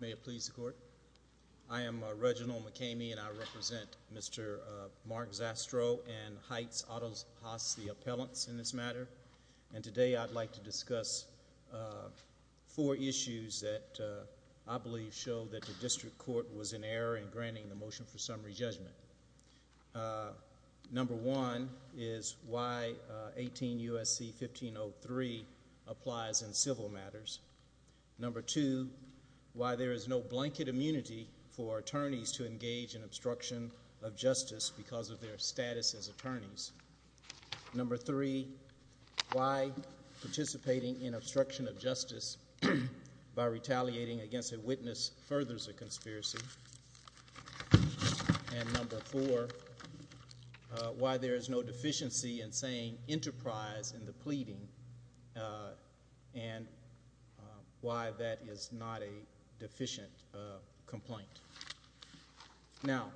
May it please the court, I am Reginald McCamey and I represent Mr. Mark Zastrow and Heights Autopsy Appellants in this matter and today I'd like to discuss four issues that I believe show that the district court was in error in granting the motion for summary judgment. Number one is why 18 U.S.C. 1503 applies in civil matters. Number two, why there is no blanket immunity for attorneys to engage in obstruction of Number three, why participating in obstruction of justice by retaliating against a witness furthers a conspiracy and number four, why there is no deficiency in saying enterprise in the pleading and why that is not a deficient complaint. Now,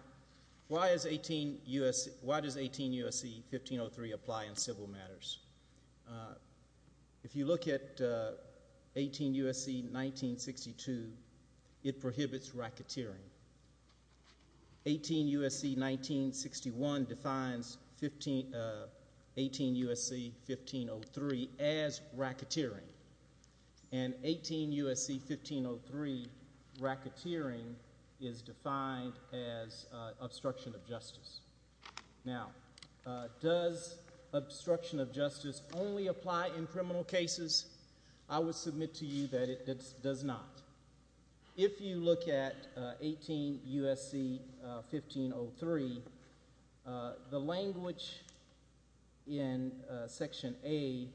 why does 18 U.S.C. 1503 apply in civil matters? If you look at 18 U.S.C. 1962, it prohibits racketeering, 18 U.S.C. 1961 defines 18 U.S.C. 1503 as racketeering and 18 U.S.C. 1503 racketeering is defined as obstruction of justice. Now does obstruction of justice only apply in criminal cases? I would submit to you that it does not. If you look at 18 U.S.C. 1503, the language in section A,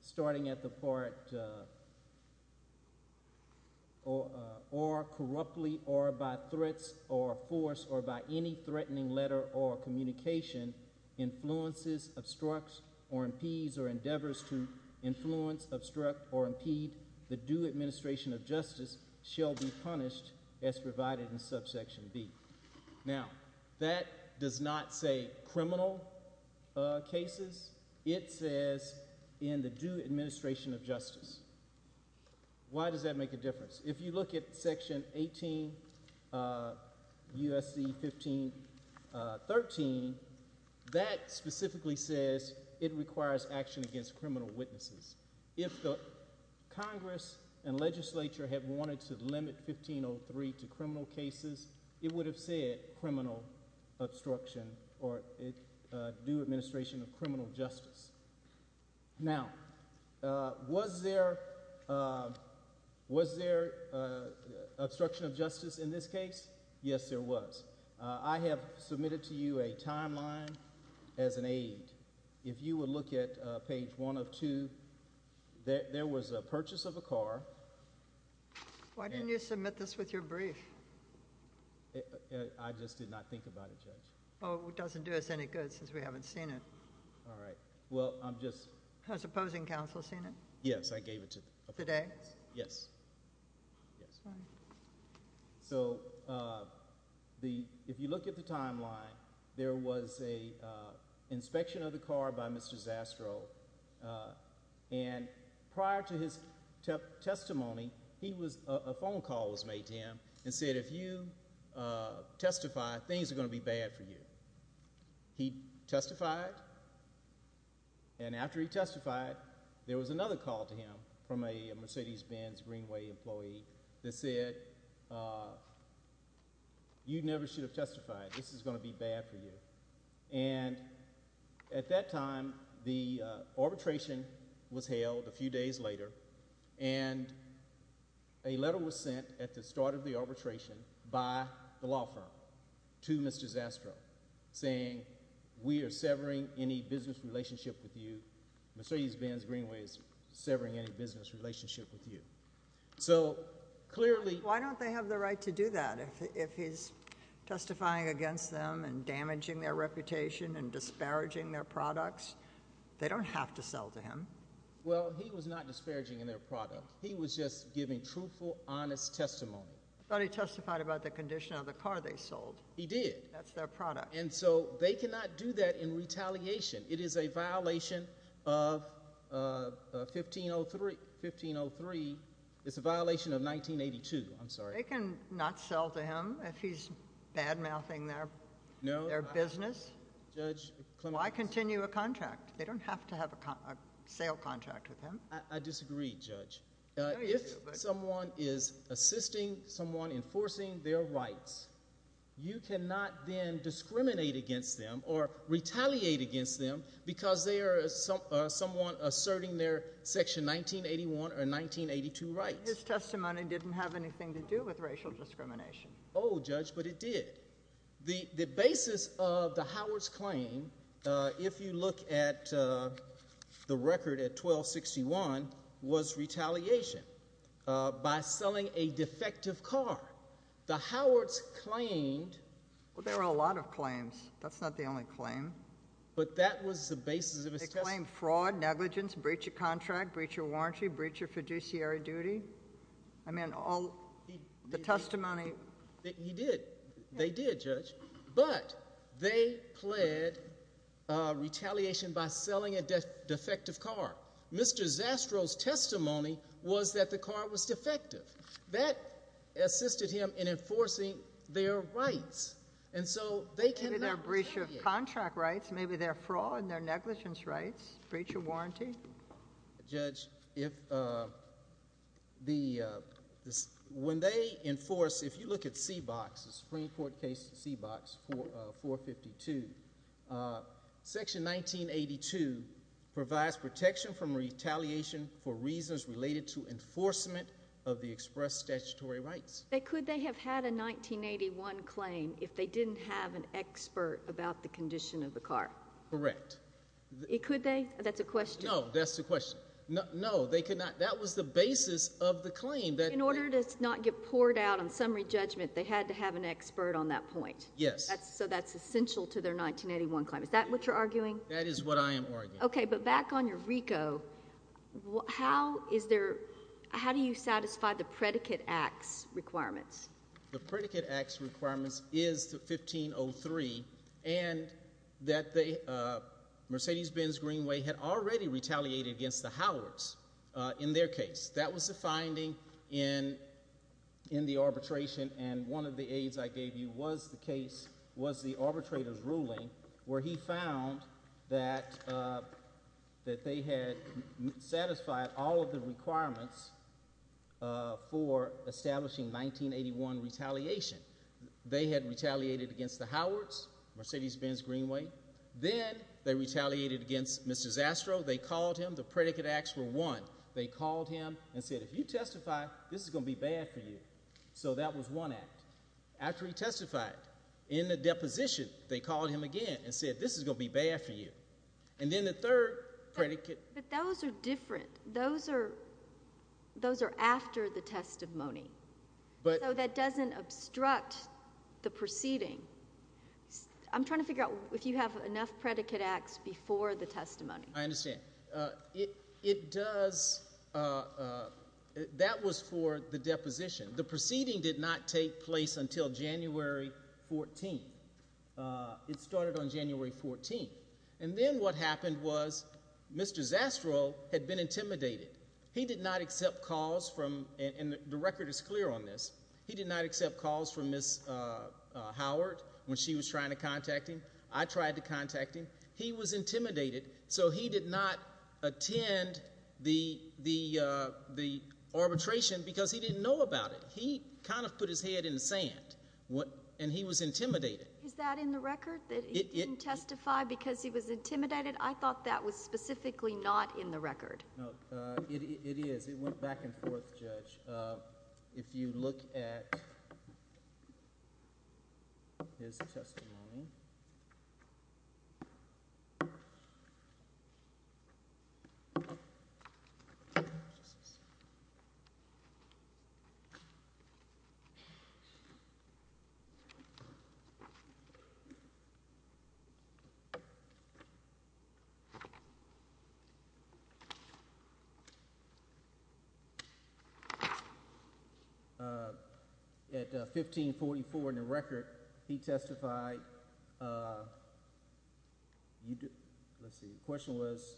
starting at the part or corruptly or by threats or force or by any threatening letter or communication influences, obstructs or impedes or endeavors to influence, obstruct or impede the due administration of justice shall be punished as provided in subsection B. Now that does not say criminal cases, it says in the due administration of justice. Why does that make a difference? If you look at section 18 U.S.C. 1513, that specifically says it requires action against criminal witnesses. If the Congress and legislature had wanted to limit 1503 to criminal cases, it would have said criminal obstruction or due administration of criminal justice. Now, was there obstruction of justice in this case? Yes, there was. I have submitted to you a timeline as an aid. If you would look at page 1 of 2, there was a purchase of a car. Why didn't you submit this with your brief? I just did not think about it, Judge. It doesn't do us any good since we haven't seen it. All right. Well, I'm just... Has opposing counsel seen it? Yes, I gave it to them. Today? Yes. Yes. Fine. So, if you look at the timeline, there was an inspection of the car by Mr. Zastrow, and prior to his testimony, a phone call was made to him and said, if you testify, things are going to be bad for you. He testified, and after he testified, there was another call to him from a Mercedes-Benz Greenway employee that said, you never should have testified. This is going to be bad for you. And at that time, the arbitration was held a few days later, and a letter was sent at the start of the arbitration by the law firm to Mr. Zastrow saying, we are severing any business relationship with you. Mercedes-Benz Greenway is severing any business relationship with you. So, clearly... Why don't they have the right to do that? If he's testifying against them and damaging their reputation and disparaging their products, they don't have to sell to him. Well, he was not disparaging their product. He was just giving truthful, honest testimony. I thought he testified about the condition of the car they sold. He did. That's their product. And so, they cannot do that in retaliation. It is a violation of 1503. It's a violation of 1982. I'm sorry. They cannot sell to him if he's bad-mouthing their business? No. Judge... Why continue a contract? They don't have to have a sale contract with him. I disagree, Judge. If someone is assisting someone enforcing their rights, you cannot then discriminate against them or retaliate against them because they are someone asserting their Section 1981 or 1982 rights. His testimony didn't have anything to do with racial discrimination. Oh, Judge, but it did. The basis of the Howards claim, if you look at the record at 1261, was retaliation by selling a defective car. The Howards claimed... Well, there were a lot of claims. That's not the only claim. But that was the basis of his testimony. They claimed fraud, negligence, breach of contract, breach of warranty, breach of fiduciary duty. I mean, all the testimony... He did. They did, Judge. But they pled retaliation by selling a defective car. Mr. Zastrow's testimony was that the car was defective. That assisted him in enforcing their rights. And so they cannot retaliate. Maybe their breach of contract rights, maybe their fraud and their negligence rights, breach of warranty. Judge, when they enforce, if you look at CBOX, the Supreme Court case CBOX 452, section 1982 provides protection from retaliation for reasons related to enforcement of the express statutory rights. But could they have had a 1981 claim if they didn't have an expert about the condition of the car? Correct. Could they? That's a question. No. That's the question. No. They could not. That was the basis of the claim. In order to not get poured out on summary judgment, they had to have an expert on that point. Yes. So that's essential to their 1981 claim. Is that what you're arguing? That is what I am arguing. Okay. But back on your RICO, how do you satisfy the predicate acts requirements? The predicate acts requirements is to 1503 and that the Mercedes-Benz Greenway had already retaliated against the Howards in their case. That was the finding in the arbitration and one of the aids I gave you was the case, was the arbitrator's ruling where he found that they had satisfied all of the requirements for establishing 1981 retaliation. They had retaliated against the Howards, Mercedes-Benz Greenway. Then they retaliated against Mr. Zastrow. They called him. The predicate acts were one. They called him and said, if you testify, this is going to be bad for you. So that was one act. After he testified in the deposition, they called him again and said, this is going to be bad for you. And then the third predicate. But those are different. Those are after the testimony. So that doesn't obstruct the proceeding. I'm trying to figure out if you have enough predicate acts before the testimony. I understand. It does. That was for the deposition. The proceeding did not take place until January 14. It started on January 14. And then what happened was Mr. Zastrow had been intimidated. He did not accept calls from, and the record is clear on this. He did not accept calls from Ms. Howard when she was trying to contact him. I tried to contact him. He was intimidated. So he did not attend the arbitration because he didn't know about it. He kind of put his head in the sand. And he was intimidated. Is that in the record? That he didn't testify because he was intimidated? I thought that was specifically not in the record. No. It is. It went back and forth, Judge. If you look at his testimony. At 1544 in the record, he testified. The question was,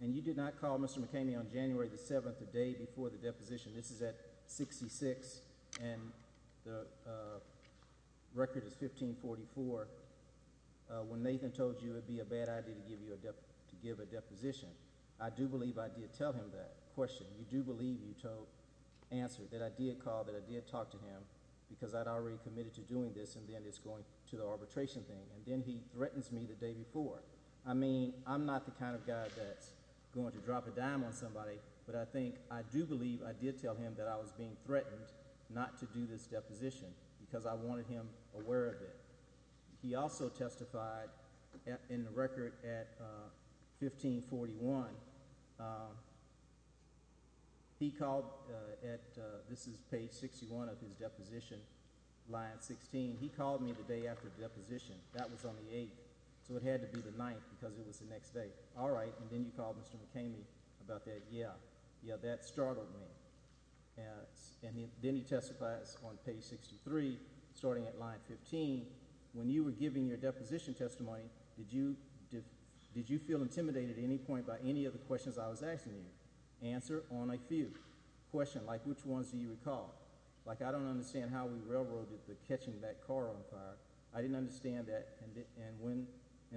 and you did not call Mr. McKamey on January 7, the day before the deposition. This is at 66. And the record is 1544. When Nathan told you it would be a bad idea to give a deposition. I do believe I did tell him that question. You do believe you told, answered, that I did call, that I did talk to him. Because I had already committed to doing this, and then it's going to the arbitration thing. And then he threatens me the day before. I mean, I'm not the kind of guy that's going to drop a dime on somebody. But I think, I do believe I did tell him that I was being threatened not to do this deposition. Because I wanted him aware of it. He also testified in the record at 1541. He called at, this is page 61 of his deposition, line 16. He called me the day after the deposition. That was on the 8th. So it had to be the 9th because it was the next day. I said, all right. And then you called Mr. McCamey about that. Yeah. Yeah, that startled me. And then he testifies on page 63, starting at line 15. When you were giving your deposition testimony, did you feel intimidated at any point by any of the questions I was asking you? Answer on a few. Question, like which ones do you recall? Like I don't understand how we railroaded the catching that car on fire. I didn't understand that. And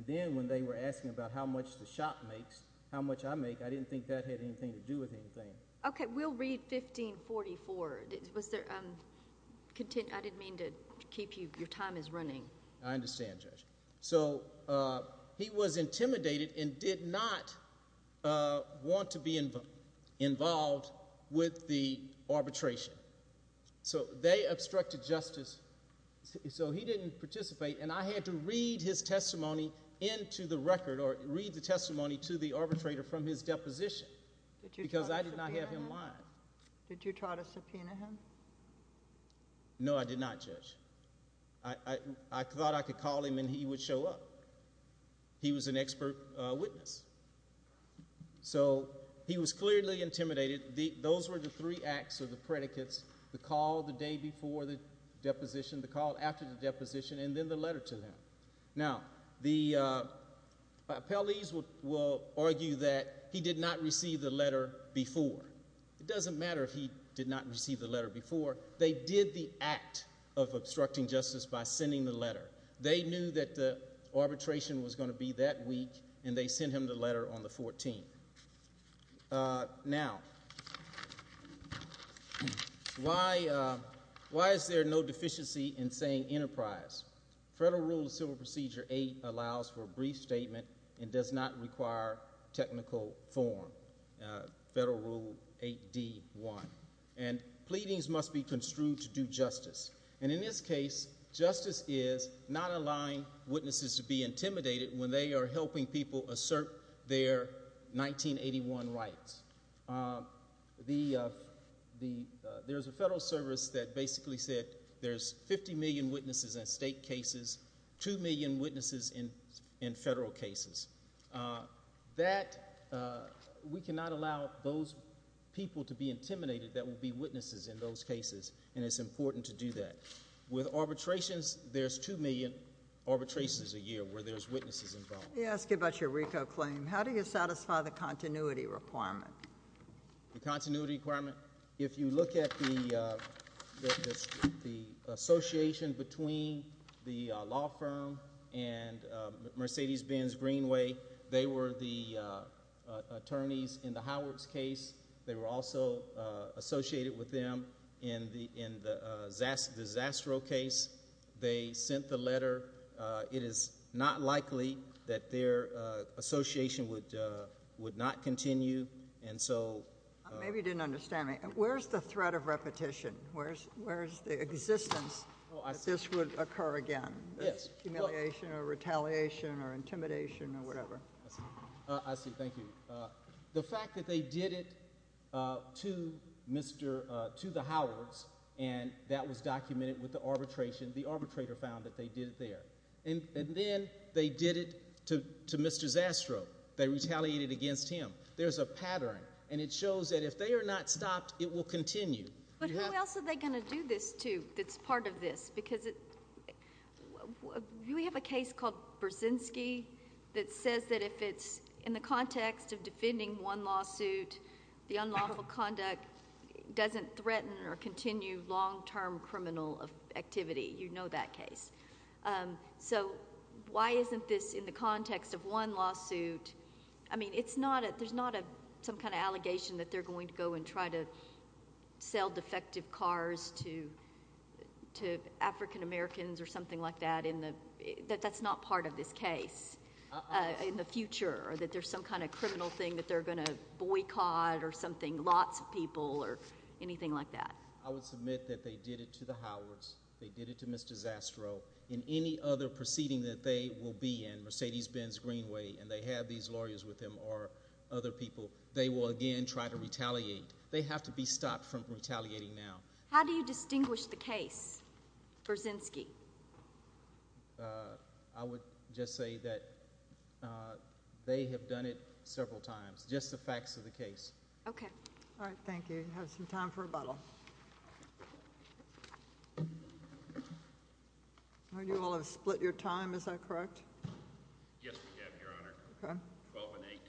then when they were asking about how much the shop makes, how much I make, I didn't think that had anything to do with anything. Okay, we'll read 1544. Was there, I didn't mean to keep you, your time is running. I understand, Judge. So he was intimidated and did not want to be involved with the arbitration. So they obstructed justice, so he didn't participate. And I had to read his testimony into the record or read the testimony to the arbitrator from his deposition because I did not have him lying. Did you try to subpoena him? No, I did not, Judge. I thought I could call him and he would show up. He was an expert witness. So he was clearly intimidated. Those were the three acts of the predicates, the call the day before the deposition, the call after the deposition, and then the letter to them. Now, the appellees will argue that he did not receive the letter before. It doesn't matter if he did not receive the letter before. They did the act of obstructing justice by sending the letter. They knew that the arbitration was going to be that week, and they sent him the letter on the 14th. Now, why is there no deficiency in saying enterprise? Federal Rule of Civil Procedure 8 allows for a brief statement and does not require technical form, Federal Rule 8D1. And pleadings must be construed to do justice. And in this case, justice is not allowing witnesses to be intimidated when they are helping people assert their 1981 rights. There's a federal service that basically said there's 50 million witnesses in state cases, 2 million witnesses in federal cases. That, we cannot allow those people to be intimidated that will be witnesses in those cases, and it's important to do that. With arbitrations, there's 2 million arbitrations a year where there's witnesses involved. Let me ask you about your RICO claim. How do you satisfy the continuity requirement? The continuity requirement? If you look at the association between the law firm and Mercedes-Benz Greenway, they were the attorneys in the Howards case. They were also associated with them in the Zastro case. They sent the letter. It is not likely that their association would not continue, and so— Maybe you didn't understand me. Where's the threat of repetition? Where's the existence that this would occur again? Humiliation or retaliation or intimidation or whatever? I see. Thank you. The fact that they did it to the Howards, and that was documented with the arbitration. The arbitrator found that they did it there. And then they did it to Mr. Zastro. They retaliated against him. There's a pattern, and it shows that if they are not stopped, it will continue. But how else are they going to do this, too, that's part of this? Because we have a case called Brzezinski that says that if it's in the context of defending one lawsuit, the unlawful conduct doesn't threaten or continue long-term criminal activity. You know that case. So why isn't this in the context of one lawsuit? I mean, there's not some kind of allegation that they're going to go and try to sell defective cars to African Americans or something like that, that that's not part of this case in the future, or that there's some kind of criminal thing that they're going to boycott or something, lots of people or anything like that. I would submit that they did it to the Howards. They did it to Mr. Zastro. In any other proceeding that they will be in, Mercedes-Benz, Greenway, and they have these lawyers with them or other people, they will again try to retaliate. They have to be stopped from retaliating now. How do you distinguish the case, Brzezinski? I would just say that they have done it several times, just the facts of the case. Okay. All right, thank you. Have some time for rebuttal. You all have split your time, is that correct? Yes, we have, Your Honor. Okay. Twelve and eight.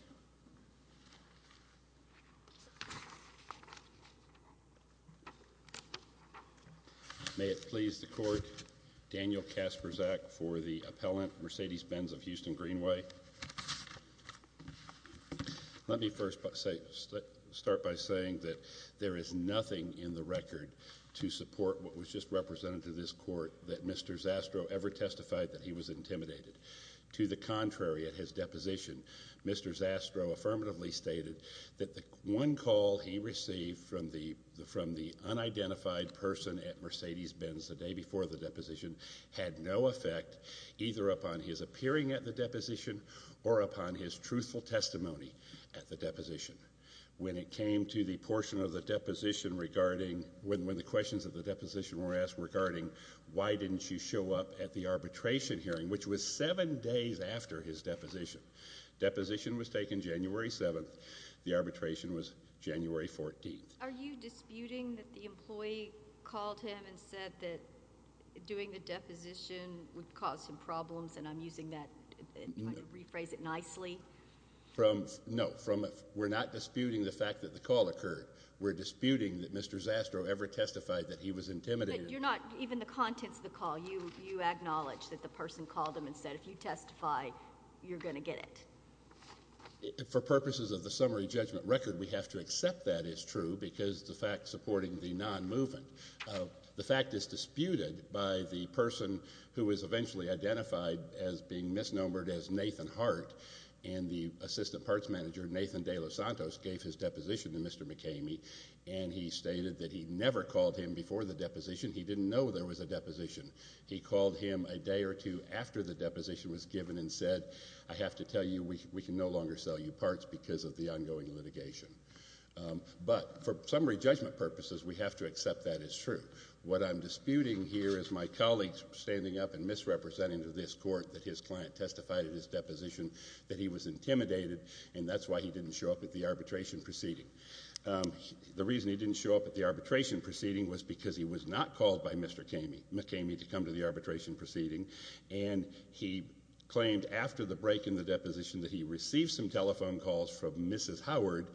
May it please the Court, Daniel Kaspersak for the appellant, Mercedes-Benz of Houston, Greenway. Let me first start by saying that there is nothing in the record to support what was just represented to this Court that Mr. Zastro ever testified that he was intimidated. To the contrary, at his deposition, Mr. Zastro affirmatively stated that the one call he received from the unidentified person at Mercedes-Benz the day before the deposition had no effect, either upon his appearing at the deposition or upon his truthful testimony at the deposition. When it came to the portion of the deposition regarding when the questions of the deposition were asked regarding why didn't you show up at the arbitration hearing, which was seven days after his deposition. Deposition was taken January 7th. The arbitration was January 14th. Are you disputing that the employee called him and said that doing the deposition would cause some problems, and I'm using that to rephrase it nicely? No. We're not disputing the fact that the call occurred. We're disputing that Mr. Zastro ever testified that he was intimidated. But you're not, even the contents of the call, you acknowledge that the person called him and said, if you testify, you're going to get it. For purposes of the summary judgment record, we have to accept that is true because the fact supporting the non-movement. The fact is disputed by the person who was eventually identified as being misnomered as Nathan Hart, and the assistant parts manager, Nathan De Los Santos, gave his deposition to Mr. McKamey, and he stated that he never called him before the deposition. He didn't know there was a deposition. He called him a day or two after the deposition was given and said, I have to tell you we can no longer sell you parts because of the ongoing litigation. But for summary judgment purposes, we have to accept that is true. What I'm disputing here is my colleagues standing up and misrepresenting to this court that his client testified at his deposition that he was intimidated, and that's why he didn't show up at the arbitration proceeding. The reason he didn't show up at the arbitration proceeding was because he was not called by Mr. McKamey. He didn't want McKamey to come to the arbitration proceeding, and he claimed after the break in the deposition that he received some telephone calls from Mrs. Howard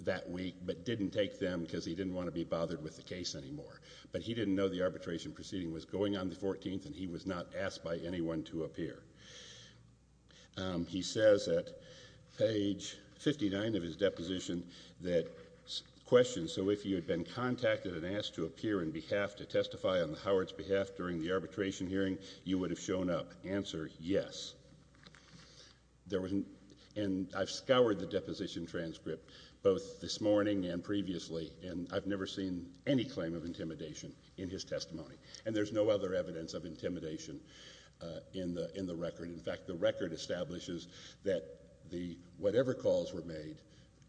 that week but didn't take them because he didn't want to be bothered with the case anymore. But he didn't know the arbitration proceeding was going on the 14th, and he was not asked by anyone to appear. He says at page 59 of his deposition that, so if you had been contacted and asked to appear in behalf to testify on the Howard's behalf during the arbitration hearing, you would have shown up. Answer, yes. And I've scoured the deposition transcript both this morning and previously, and I've never seen any claim of intimidation in his testimony, and there's no other evidence of intimidation in the record. In fact, the record establishes that whatever calls were made,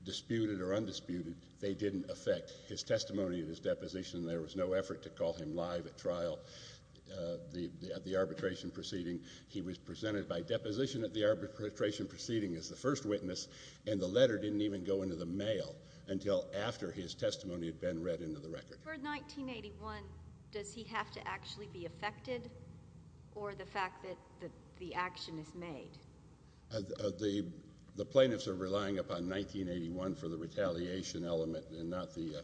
disputed or undisputed, they didn't affect his testimony at his deposition. There was no effort to call him live at trial at the arbitration proceeding. He was presented by deposition at the arbitration proceeding as the first witness, and the letter didn't even go into the mail until after his testimony had been read into the record. For 1981, does he have to actually be affected or the fact that the action is made? The plaintiffs are relying upon 1981 for the retaliation element and not the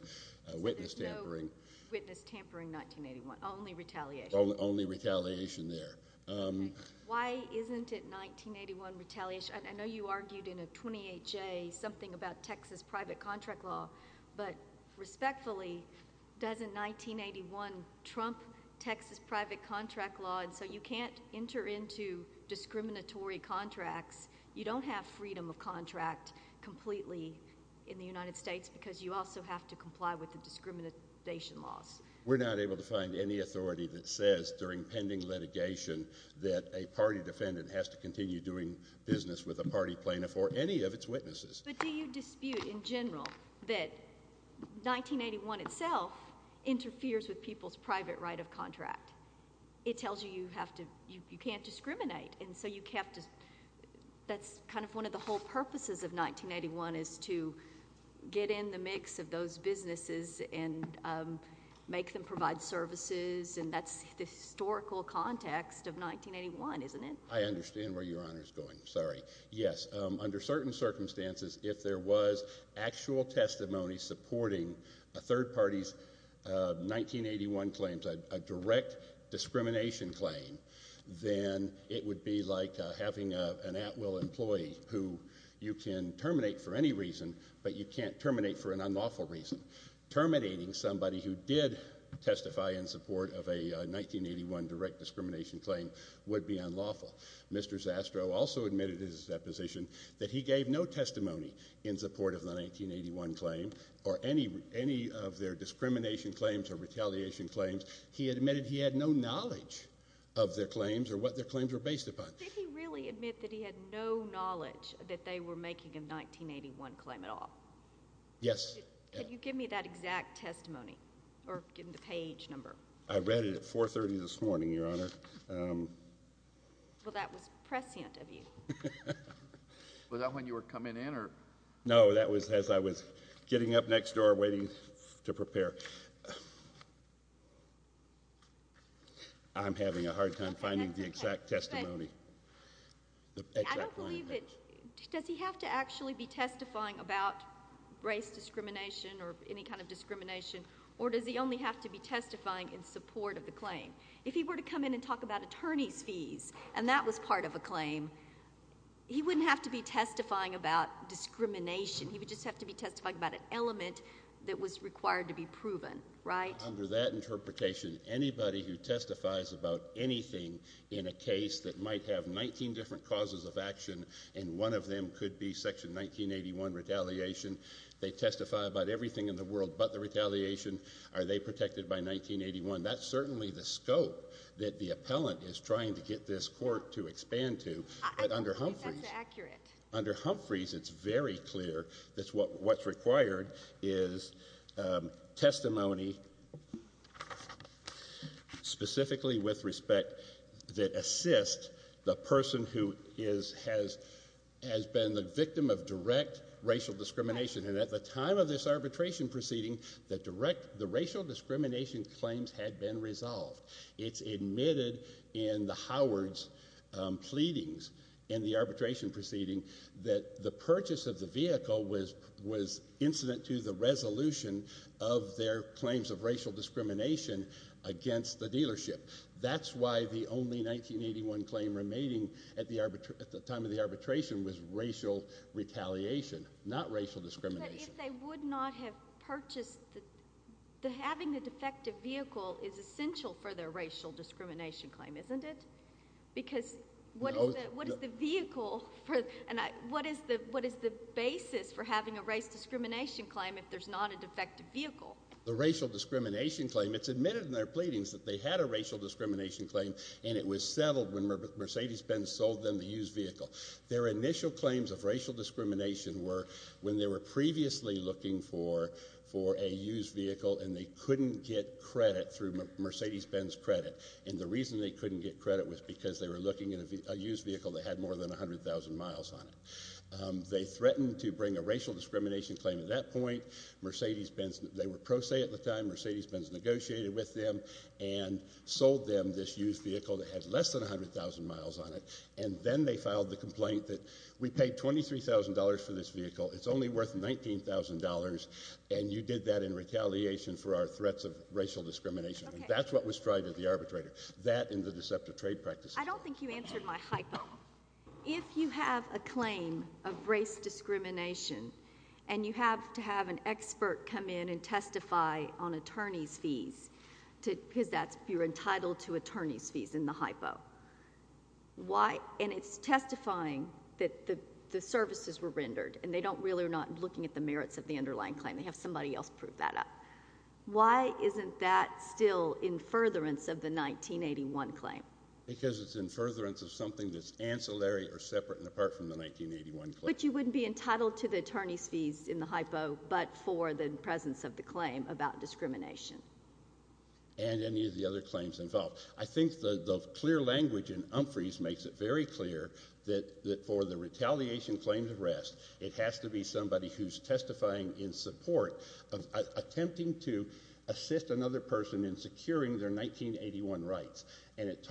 witness tampering. So there's no witness tampering in 1981, only retaliation. Only retaliation there. Why isn't it 1981 retaliation? Judge, I know you argued in a 28-J something about Texas private contract law, but respectfully, doesn't 1981 trump Texas private contract law? And so you can't enter into discriminatory contracts. You don't have freedom of contract completely in the United States because you also have to comply with the discrimination laws. We're not able to find any authority that says during pending litigation that a party defendant has to continue doing business with a party plaintiff or any of its witnesses. But do you dispute in general that 1981 itself interferes with people's private right of contract? It tells you you have to—you can't discriminate, and so you have to— that's kind of one of the whole purposes of 1981 is to get in the mix of those businesses and make them provide services, and that's the historical context of 1981, isn't it? I understand where Your Honor is going. Sorry. Yes, under certain circumstances, if there was actual testimony supporting a third party's 1981 claims, a direct discrimination claim, then it would be like having an at-will employee who you can terminate for any reason, but you can't terminate for an unlawful reason. Terminating somebody who did testify in support of a 1981 direct discrimination claim would be unlawful. Mr. Zastrow also admitted in his deposition that he gave no testimony in support of the 1981 claim or any of their discrimination claims or retaliation claims. He admitted he had no knowledge of their claims or what their claims were based upon. Did he really admit that he had no knowledge that they were making a 1981 claim at all? Yes. Can you give me that exact testimony or give me the page number? I read it at 4.30 this morning, Your Honor. Well, that was prescient of you. Was that when you were coming in or— No, that was as I was getting up next door waiting to prepare. I'm having a hard time finding the exact testimony. I don't believe it. Does he have to actually be testifying about race discrimination or any kind of discrimination, or does he only have to be testifying in support of the claim? If he were to come in and talk about attorney's fees and that was part of a claim, he wouldn't have to be testifying about discrimination. He would just have to be testifying about an element that was required to be proven, right? Under that interpretation, anybody who testifies about anything in a case that might have 19 different causes of action and one of them could be Section 1981 retaliation, they testify about everything in the world but the retaliation, are they protected by 1981? That's certainly the scope that the appellant is trying to get this court to expand to. I don't believe that's accurate. Under Humphreys, it's very clear that what's required is testimony specifically with respect that assists the person who has been the victim of direct racial discrimination. At the time of this arbitration proceeding, the racial discrimination claims had been resolved. It's admitted in the Howard's pleadings in the arbitration proceeding that the purchase of the vehicle was incident to the resolution of their claims of racial discrimination against the dealership. That's why the only 1981 claim remaining at the time of the arbitration was racial retaliation, not racial discrimination. But if they would not have purchased, having a defective vehicle is essential for their racial discrimination claim, isn't it? Because what is the vehicle, what is the basis for having a race discrimination claim if there's not a defective vehicle? The racial discrimination claim, it's admitted in their pleadings that they had a racial discrimination claim and it was settled when Mercedes-Benz sold them the used vehicle. Their initial claims of racial discrimination were when they were previously looking for a used vehicle and they couldn't get credit through Mercedes-Benz credit. And the reason they couldn't get credit was because they were looking at a used vehicle that had more than 100,000 miles on it. They threatened to bring a racial discrimination claim at that point. They were pro se at the time. Mercedes-Benz negotiated with them and sold them this used vehicle that had less than 100,000 miles on it. And then they filed the complaint that we paid $23,000 for this vehicle. It's only worth $19,000 and you did that in retaliation for our threats of racial discrimination. That's what was tried at the arbitrator. That and the deceptive trade practices. I don't think you answered my hypo. If you have a claim of race discrimination and you have to have an expert come in and testify on attorney's fees, because you're entitled to attorney's fees in the hypo, and it's testifying that the services were rendered and they really are not looking at the merits of the underlying claim. They have somebody else prove that up. Why isn't that still in furtherance of the 1981 claim? Because it's in furtherance of something that's ancillary or separate and apart from the 1981 claim. But you wouldn't be entitled to the attorney's fees in the hypo, but for the presence of the claim about discrimination. And any of the other claims involved. I think the clear language in Umphrey's makes it very clear that for the retaliation claim to rest, it has to be somebody who's testifying in support of attempting to assist another person in securing their 1981 rights. And it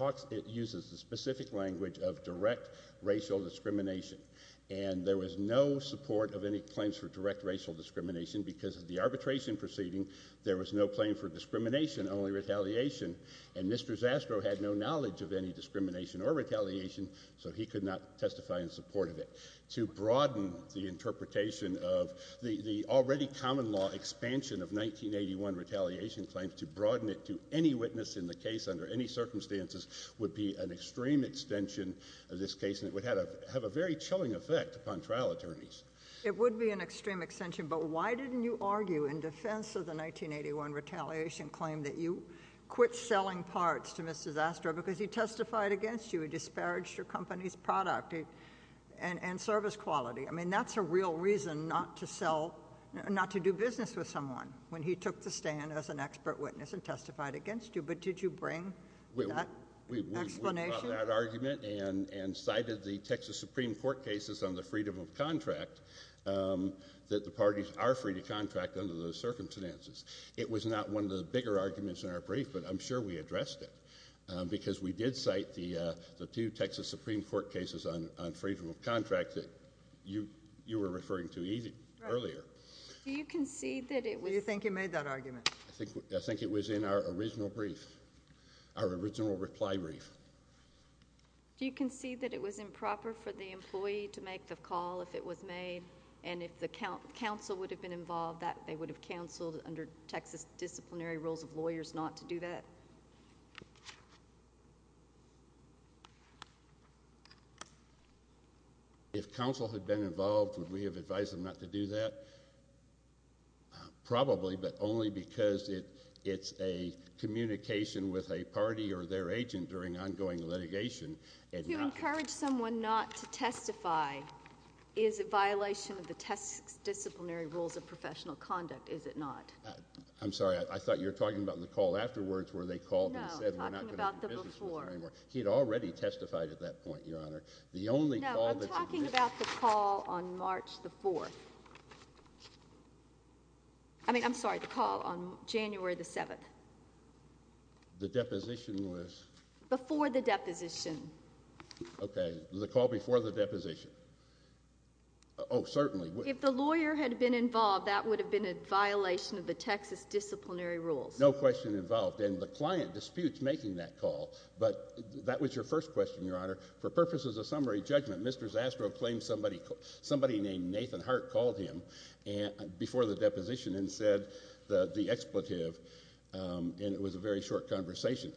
uses the specific language of direct racial discrimination. And there was no support of any claims for direct racial discrimination because of the arbitration proceeding. There was no claim for discrimination, only retaliation. And Mr. Zastrow had no knowledge of any discrimination or retaliation, so he could not testify in support of it. To broaden the interpretation of the already common law expansion of 1981 retaliation claims, to broaden it to any witness in the case under any circumstances would be an extreme extension of this case, and it would have a very chilling effect upon trial attorneys. It would be an extreme extension, but why didn't you argue in defense of the 1981 retaliation claim that you quit selling parts to Mr. Zastrow because he testified against you, he disparaged your company's product and service quality? I mean, that's a real reason not to do business with someone when he took the stand as an expert witness and testified against you. But did you bring that explanation? I brought that argument and cited the Texas Supreme Court cases on the freedom of contract, that the parties are free to contract under those circumstances. It was not one of the bigger arguments in our brief, but I'm sure we addressed it because we did cite the two Texas Supreme Court cases on freedom of contract that you were referring to earlier. Do you concede that it was- Do you think you made that argument? I think it was in our original brief, our original reply brief. Do you concede that it was improper for the employee to make the call if it was made, and if the counsel would have been involved, that they would have counseled under Texas disciplinary rules of lawyers not to do that? If counsel had been involved, would we have advised them not to do that? Probably, but only because it's a communication with a party or their agent during ongoing litigation and not- You encourage someone not to testify. Is it violation of the Texas disciplinary rules of professional conduct? Is it not? I'm sorry. I thought you were talking about the call afterwards where they called and said- No, I'm talking about the before. He had already testified at that point, Your Honor. The only call- No, I'm talking about the call on March the 4th. I mean, I'm sorry, the call on January the 7th. The deposition was- Before the deposition. Okay. The call before the deposition. Oh, certainly. If the lawyer had been involved, that would have been a violation of the Texas disciplinary rules. No question involved. And the client disputes making that call, but that was your first question, Your Honor. For purposes of summary judgment, Mr. Zastrow claimed somebody named Nathan Hart called him before the deposition and said the expletive, and it was a very short conversation.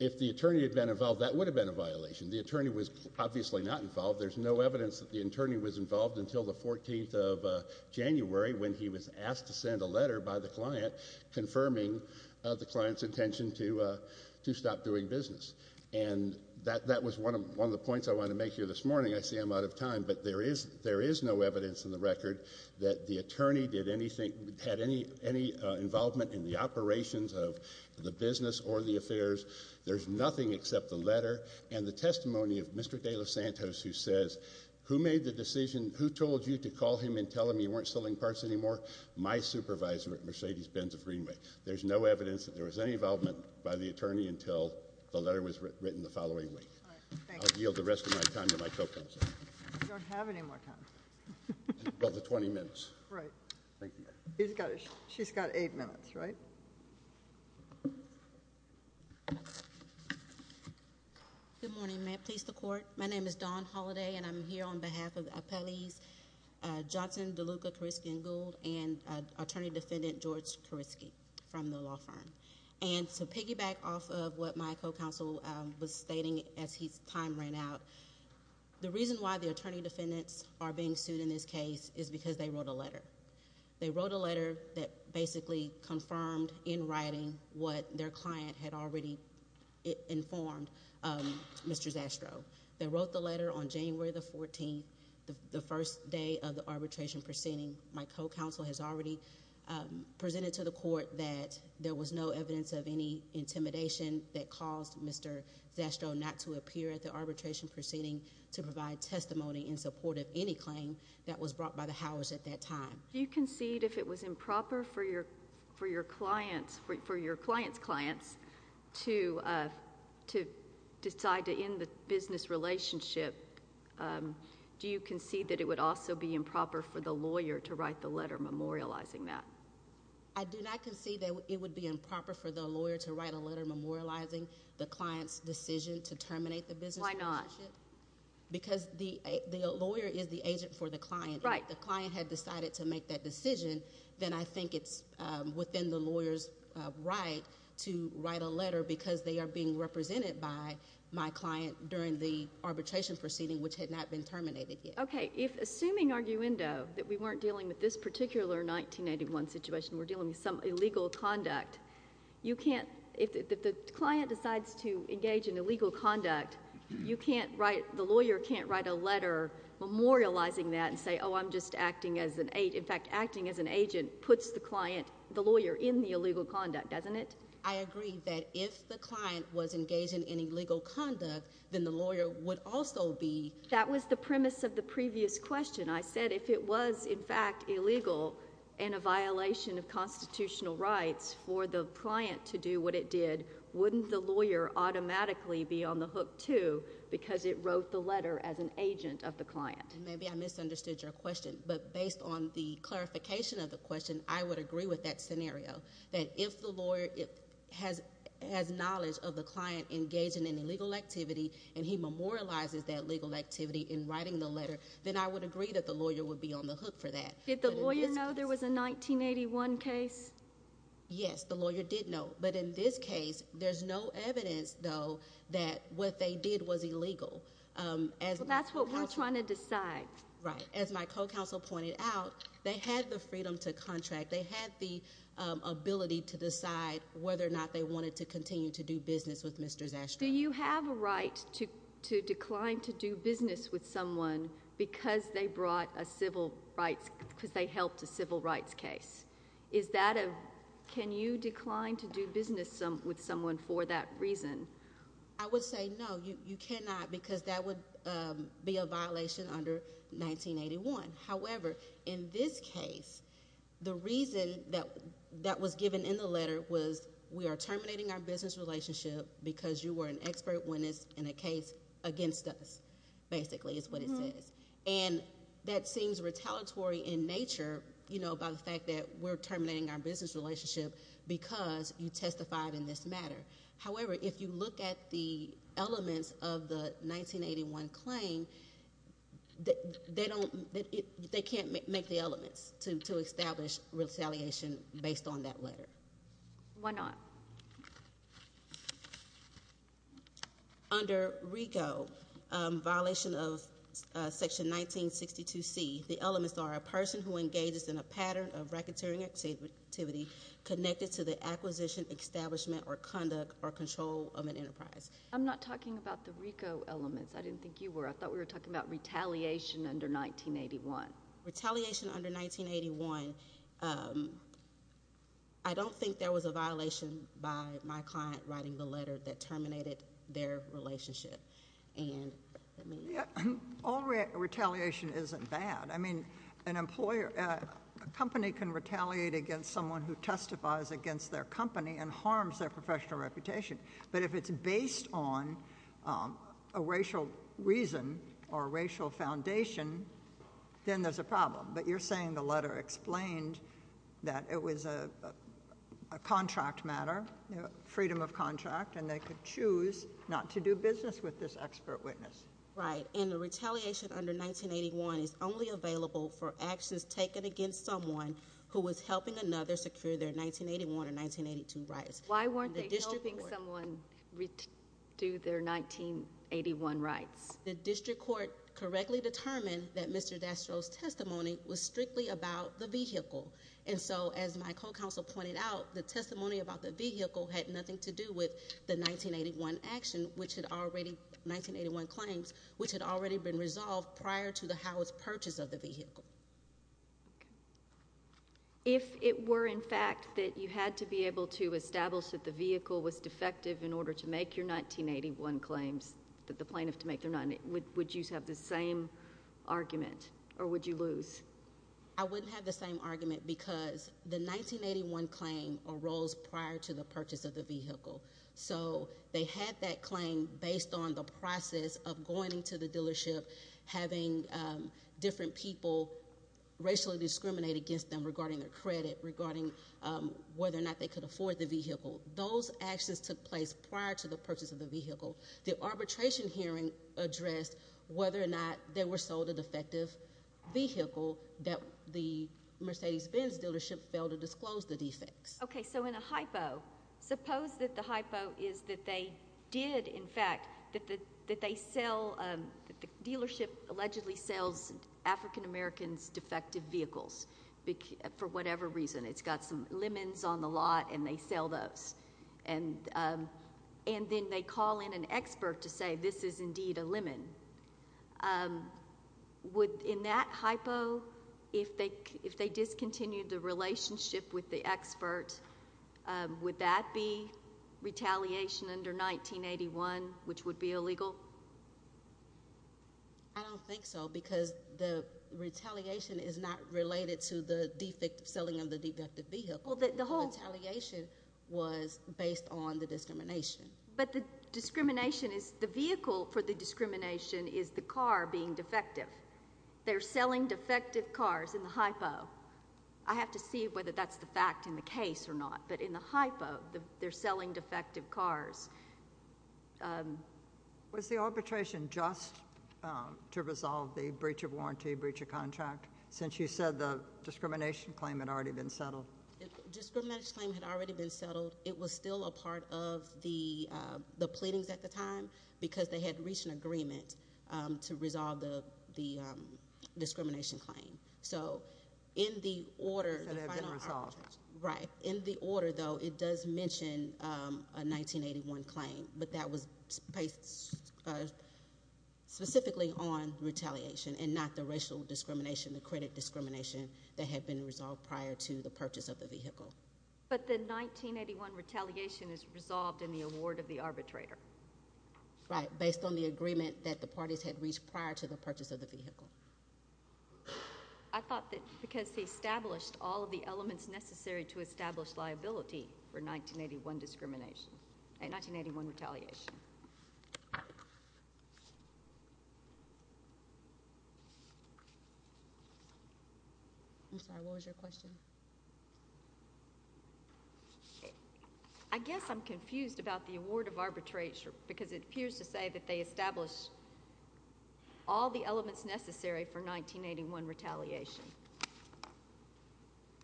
If the attorney had been involved, that would have been a violation. The attorney was obviously not involved. There's no evidence that the attorney was involved until the 14th of January when he was asked to send a letter by the client confirming the client's intention to stop doing business. And that was one of the points I wanted to make here this morning. I see I'm out of time, but there is no evidence in the record that the attorney did anything, had any involvement in the operations of the business or the affairs. There's nothing except the letter and the testimony of Mr. De Los Santos who says, who made the decision, who told you to call him and tell him you weren't selling parts anymore? My supervisor at Mercedes-Benz of Greenway. There's no evidence that there was any involvement by the attorney until the letter was written the following week. All right. Thank you. I'll yield the rest of my time to my co-counsel. You don't have any more time. About the 20 minutes. Right. Thank you. She's got eight minutes, right? Good morning. May it please the Court? My name is Dawn Holliday, and I'm here on behalf of appellees Johnson, DeLuca, Karisky, and Gould and attorney-defendant George Karisky from the law firm. And to piggyback off of what my co-counsel was stating as his time ran out, the reason why the attorney-defendants are being sued in this case is because they wrote a letter. They wrote a letter that basically confirmed in writing what their client had already informed Mr. Zastrow. They wrote the letter on January the 14th, the first day of the arbitration proceeding. My co-counsel has already presented to the Court that there was no evidence of any intimidation that caused Mr. Zastrow not to appear at the arbitration proceeding to provide testimony in support of any claim that was brought by the house at that time. Do you concede if it was improper for your client's clients to decide to end the business relationship, do you concede that it would also be improper for the lawyer to write the letter memorializing that? I do not concede that it would be improper for the lawyer to write a letter memorializing the client's decision to terminate the business relationship. Why not? Because the lawyer is the agent for the client. Right. If the client had decided to make that decision, then I think it's within the lawyer's right to write a letter because they are being represented by my client during the arbitration proceeding, which had not been terminated yet. Okay. Assuming, arguendo, that we weren't dealing with this particular 1981 situation, we're dealing with some illegal conduct, if the client decides to engage in illegal conduct, the lawyer can't write a letter memorializing that and say, oh, I'm just acting as an agent. In fact, acting as an agent puts the client, the lawyer, in the illegal conduct, doesn't it? I agree that if the client was engaged in illegal conduct, then the lawyer would also be— That was the premise of the previous question. I said if it was, in fact, illegal and a violation of constitutional rights for the client to do what it did, wouldn't the lawyer automatically be on the hook, too, because it wrote the letter as an agent of the client? Maybe I misunderstood your question, but based on the clarification of the question, I would agree with that scenario, that if the lawyer has knowledge of the client engaging in illegal activity and he memorializes that legal activity in writing the letter, then I would agree that the lawyer would be on the hook for that. Did the lawyer know there was a 1981 case? Yes, the lawyer did know, but in this case, there's no evidence, though, that what they did was illegal. That's what we're trying to decide. Right. As my co-counsel pointed out, they had the freedom to contract. They had the ability to decide whether or not they wanted to continue to do business with Mr. Zastrow. Do you have a right to decline to do business with someone because they helped a civil rights case? Can you decline to do business with someone for that reason? I would say no, you cannot, because that would be a violation under 1981. However, in this case, the reason that was given in the letter was, we are terminating our business relationship because you were an expert witness in a case against us, basically, is what it says. That seems retaliatory in nature by the fact that we're terminating our business relationship because you testified in this matter. However, if you look at the elements of the 1981 claim, they can't make the elements to establish retaliation based on that letter. Why not? Under RICO, violation of section 1962C, the elements are a person who engages in a pattern of racketeering activity connected to the acquisition, establishment, or conduct or control of an enterprise. I'm not talking about the RICO elements. I didn't think you were. I thought we were talking about retaliation under 1981. Retaliation under 1981, I don't think there was a violation by my client writing the letter that terminated their relationship. All retaliation isn't bad. A company can retaliate against someone who testifies against their company and harms their professional reputation, but if it's based on a racial reason or a racial foundation, then there's a problem. You're saying the letter explained that it was a contract matter, freedom of contract, and they could choose not to do business with this expert witness. Right, and the retaliation under 1981 is only available for actions taken against someone who was helping another secure their 1981 or 1982 rights. Why weren't they helping someone do their 1981 rights? The district court correctly determined that Mr. Dastrow's testimony was strictly about the vehicle. As my co-counsel pointed out, the testimony about the vehicle had nothing to do with the 1981 claims, which had already been resolved prior to the house purchase of the vehicle. If it were, in fact, that you had to be able to establish that the vehicle was defective in order to make your 1981 claims, that the plaintiff had to make their 1981 claims, would you have the same argument, or would you lose? I wouldn't have the same argument because the 1981 claim arose prior to the purchase of the vehicle, so they had that claim based on the process of going to the dealership, having different people racially discriminate against them regarding their credit, regarding whether or not they could afford the vehicle. Those actions took place prior to the purchase of the vehicle. The arbitration hearing addressed whether or not they were sold a defective vehicle that the Mercedes-Benz dealership failed to disclose the defects. Okay, so in a hypo, suppose that the hypo is that they did, in fact, that they sell— that the dealership allegedly sells African Americans defective vehicles for whatever reason. It's got some lemons on the lot, and they sell those. Then they call in an expert to say, this is indeed a lemon. In that hypo, if they discontinued the relationship with the expert, would that be retaliation under 1981, which would be illegal? I don't think so because the retaliation is not related to the selling of the defective vehicle. The retaliation was based on the discrimination. But the vehicle for the discrimination is the car being defective. They're selling defective cars in the hypo. I have to see whether that's the fact in the case or not, but in the hypo, they're selling defective cars. Was the arbitration just to resolve the breach of warranty, breach of contract, since you said the discrimination claim had already been settled? The discrimination claim had already been settled. It was still a part of the pleadings at the time because they had reached an agreement to resolve the discrimination claim. So, in the order— It should have been resolved. Right. In the order, though, it does mention a 1981 claim, but that was based specifically on retaliation and not the racial discrimination, the credit discrimination that had been resolved prior to the purchase of the vehicle. But the 1981 retaliation is resolved in the award of the arbitrator. Right, based on the agreement that the parties had reached prior to the purchase of the vehicle. I thought that because he established all of the elements necessary to establish liability for 1981 discrimination—1981 retaliation. I'm sorry, what was your question? I guess I'm confused about the award of arbitration because it appears to say that they established all the elements necessary for 1981 retaliation.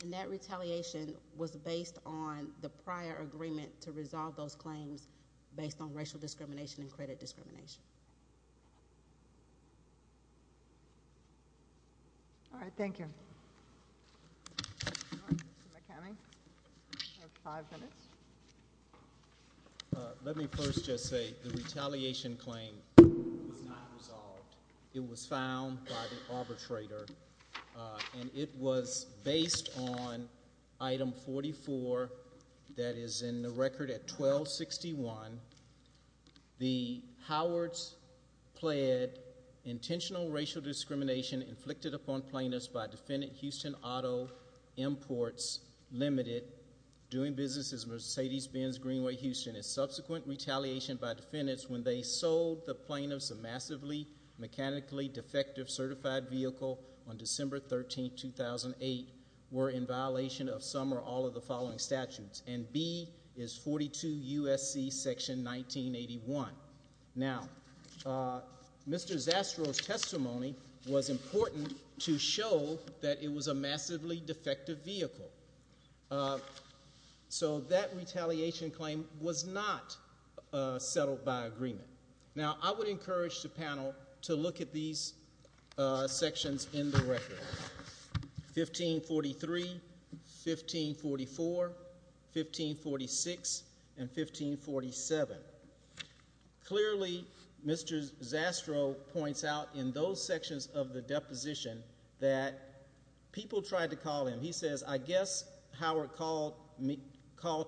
And that retaliation was based on the prior agreement to resolve those claims based on racial discrimination and credit discrimination. All right, thank you. Let me first just say the retaliation claim was not resolved. It was found by the arbitrator. And it was based on item 44 that is in the record at 1261, the Howards pled intentional racial discrimination inflicted upon plaintiffs by defendant Houston Auto Imports Limited doing business as Mercedes-Benz Greenway Houston. A subsequent retaliation by defendants when they sold the plaintiffs a massively mechanically defective certified vehicle on December 13, 2008 were in violation of some or all of the following statutes. And B is 42 U.S.C. section 1981. Now, Mr. Zastrow's testimony was important to show that it was a massively defective vehicle. So that retaliation claim was not settled by agreement. Now, I would encourage the panel to look at these sections in the record. 1543, 1544, 1546, and 1547. Clearly, Mr. Zastrow points out in those sections of the deposition that people tried to call him. He says, I guess Howard called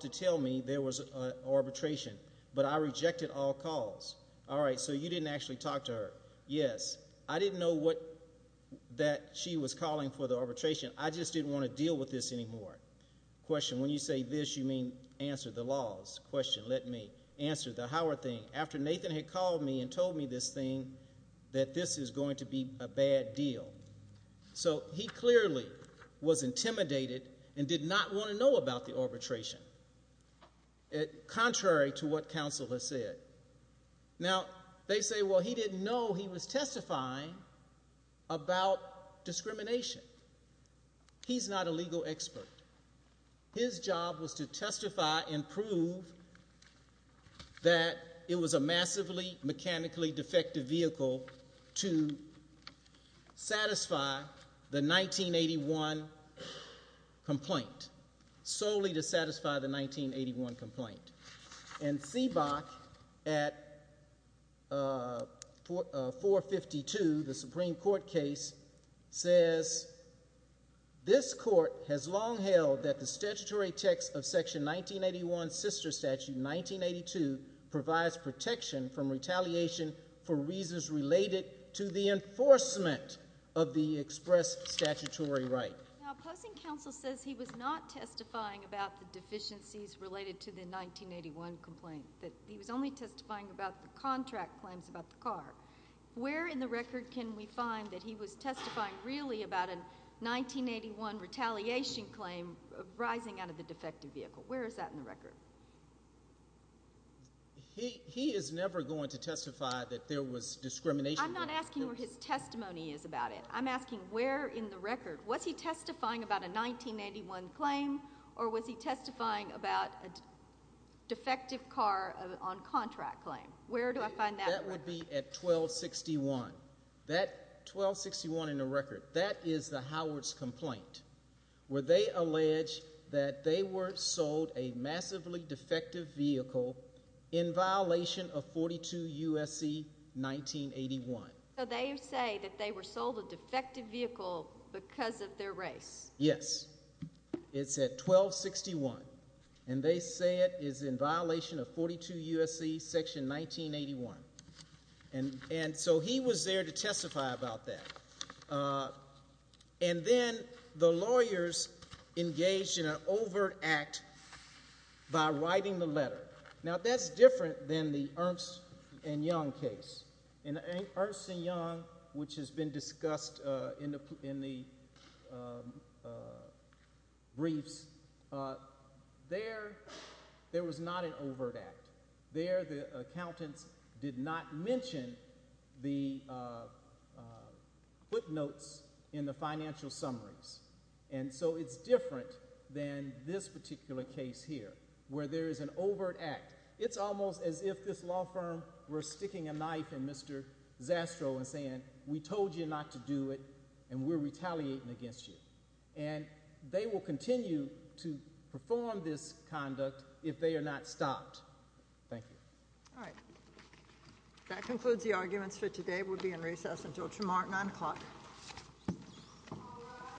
to tell me there was arbitration, but I rejected all calls. All right, so you didn't actually talk to her. Yes, I didn't know that she was calling for the arbitration. I just didn't want to deal with this anymore. Question, when you say this, you mean answer the laws. Question, let me answer the Howard thing. After Nathan had called me and told me this thing, that this is going to be a bad deal. So he clearly was intimidated and did not want to know about the arbitration, contrary to what counsel has said. Now, they say, well, he didn't know he was testifying about discrimination. He's not a legal expert. His job was to testify and prove that it was a massively mechanically defective vehicle to satisfy the 1981 complaint, solely to satisfy the 1981 complaint. And Seabock, at 452, the Supreme Court case, says, this court has long held that the statutory text of Section 1981, Sister Statute 1982, provides protection from retaliation for reasons related to the enforcement of the express statutory right. Now, opposing counsel says he was not testifying about the deficiencies related to the 1981 complaint, that he was only testifying about the contract claims about the car. Where in the record can we find that he was testifying really about a 1981 retaliation claim arising out of the defective vehicle? Where is that in the record? He is never going to testify that there was discrimination. I'm not asking where his testimony is about it. I'm asking where in the record. Was he testifying about a 1981 claim, or was he testifying about a defective car on contract claim? Where do I find that? That would be at 1261. 1261 in the record. That is the Howards complaint, where they allege that they were sold a massively defective vehicle in violation of 42 U.S.C. 1981. So they say that they were sold a defective vehicle because of their race. Yes. It's at 1261. And they say it is in violation of 42 U.S.C. section 1981. And so he was there to testify about that. And then the lawyers engaged in an overt act by writing the letter. Now, that's different than the Ernst & Young case. In Ernst & Young, which has been discussed in the briefs, there was not an overt act. There the accountants did not mention the footnotes in the financial summaries. And so it's different than this particular case here, where there is an overt act. It's almost as if this law firm were sticking a knife in Mr. Zastrow and saying, We told you not to do it, and we're retaliating against you. And they will continue to perform this conduct if they are not stopped. Thank you. All right. That concludes the arguments for today. We'll be in recess until tomorrow at 9 o'clock.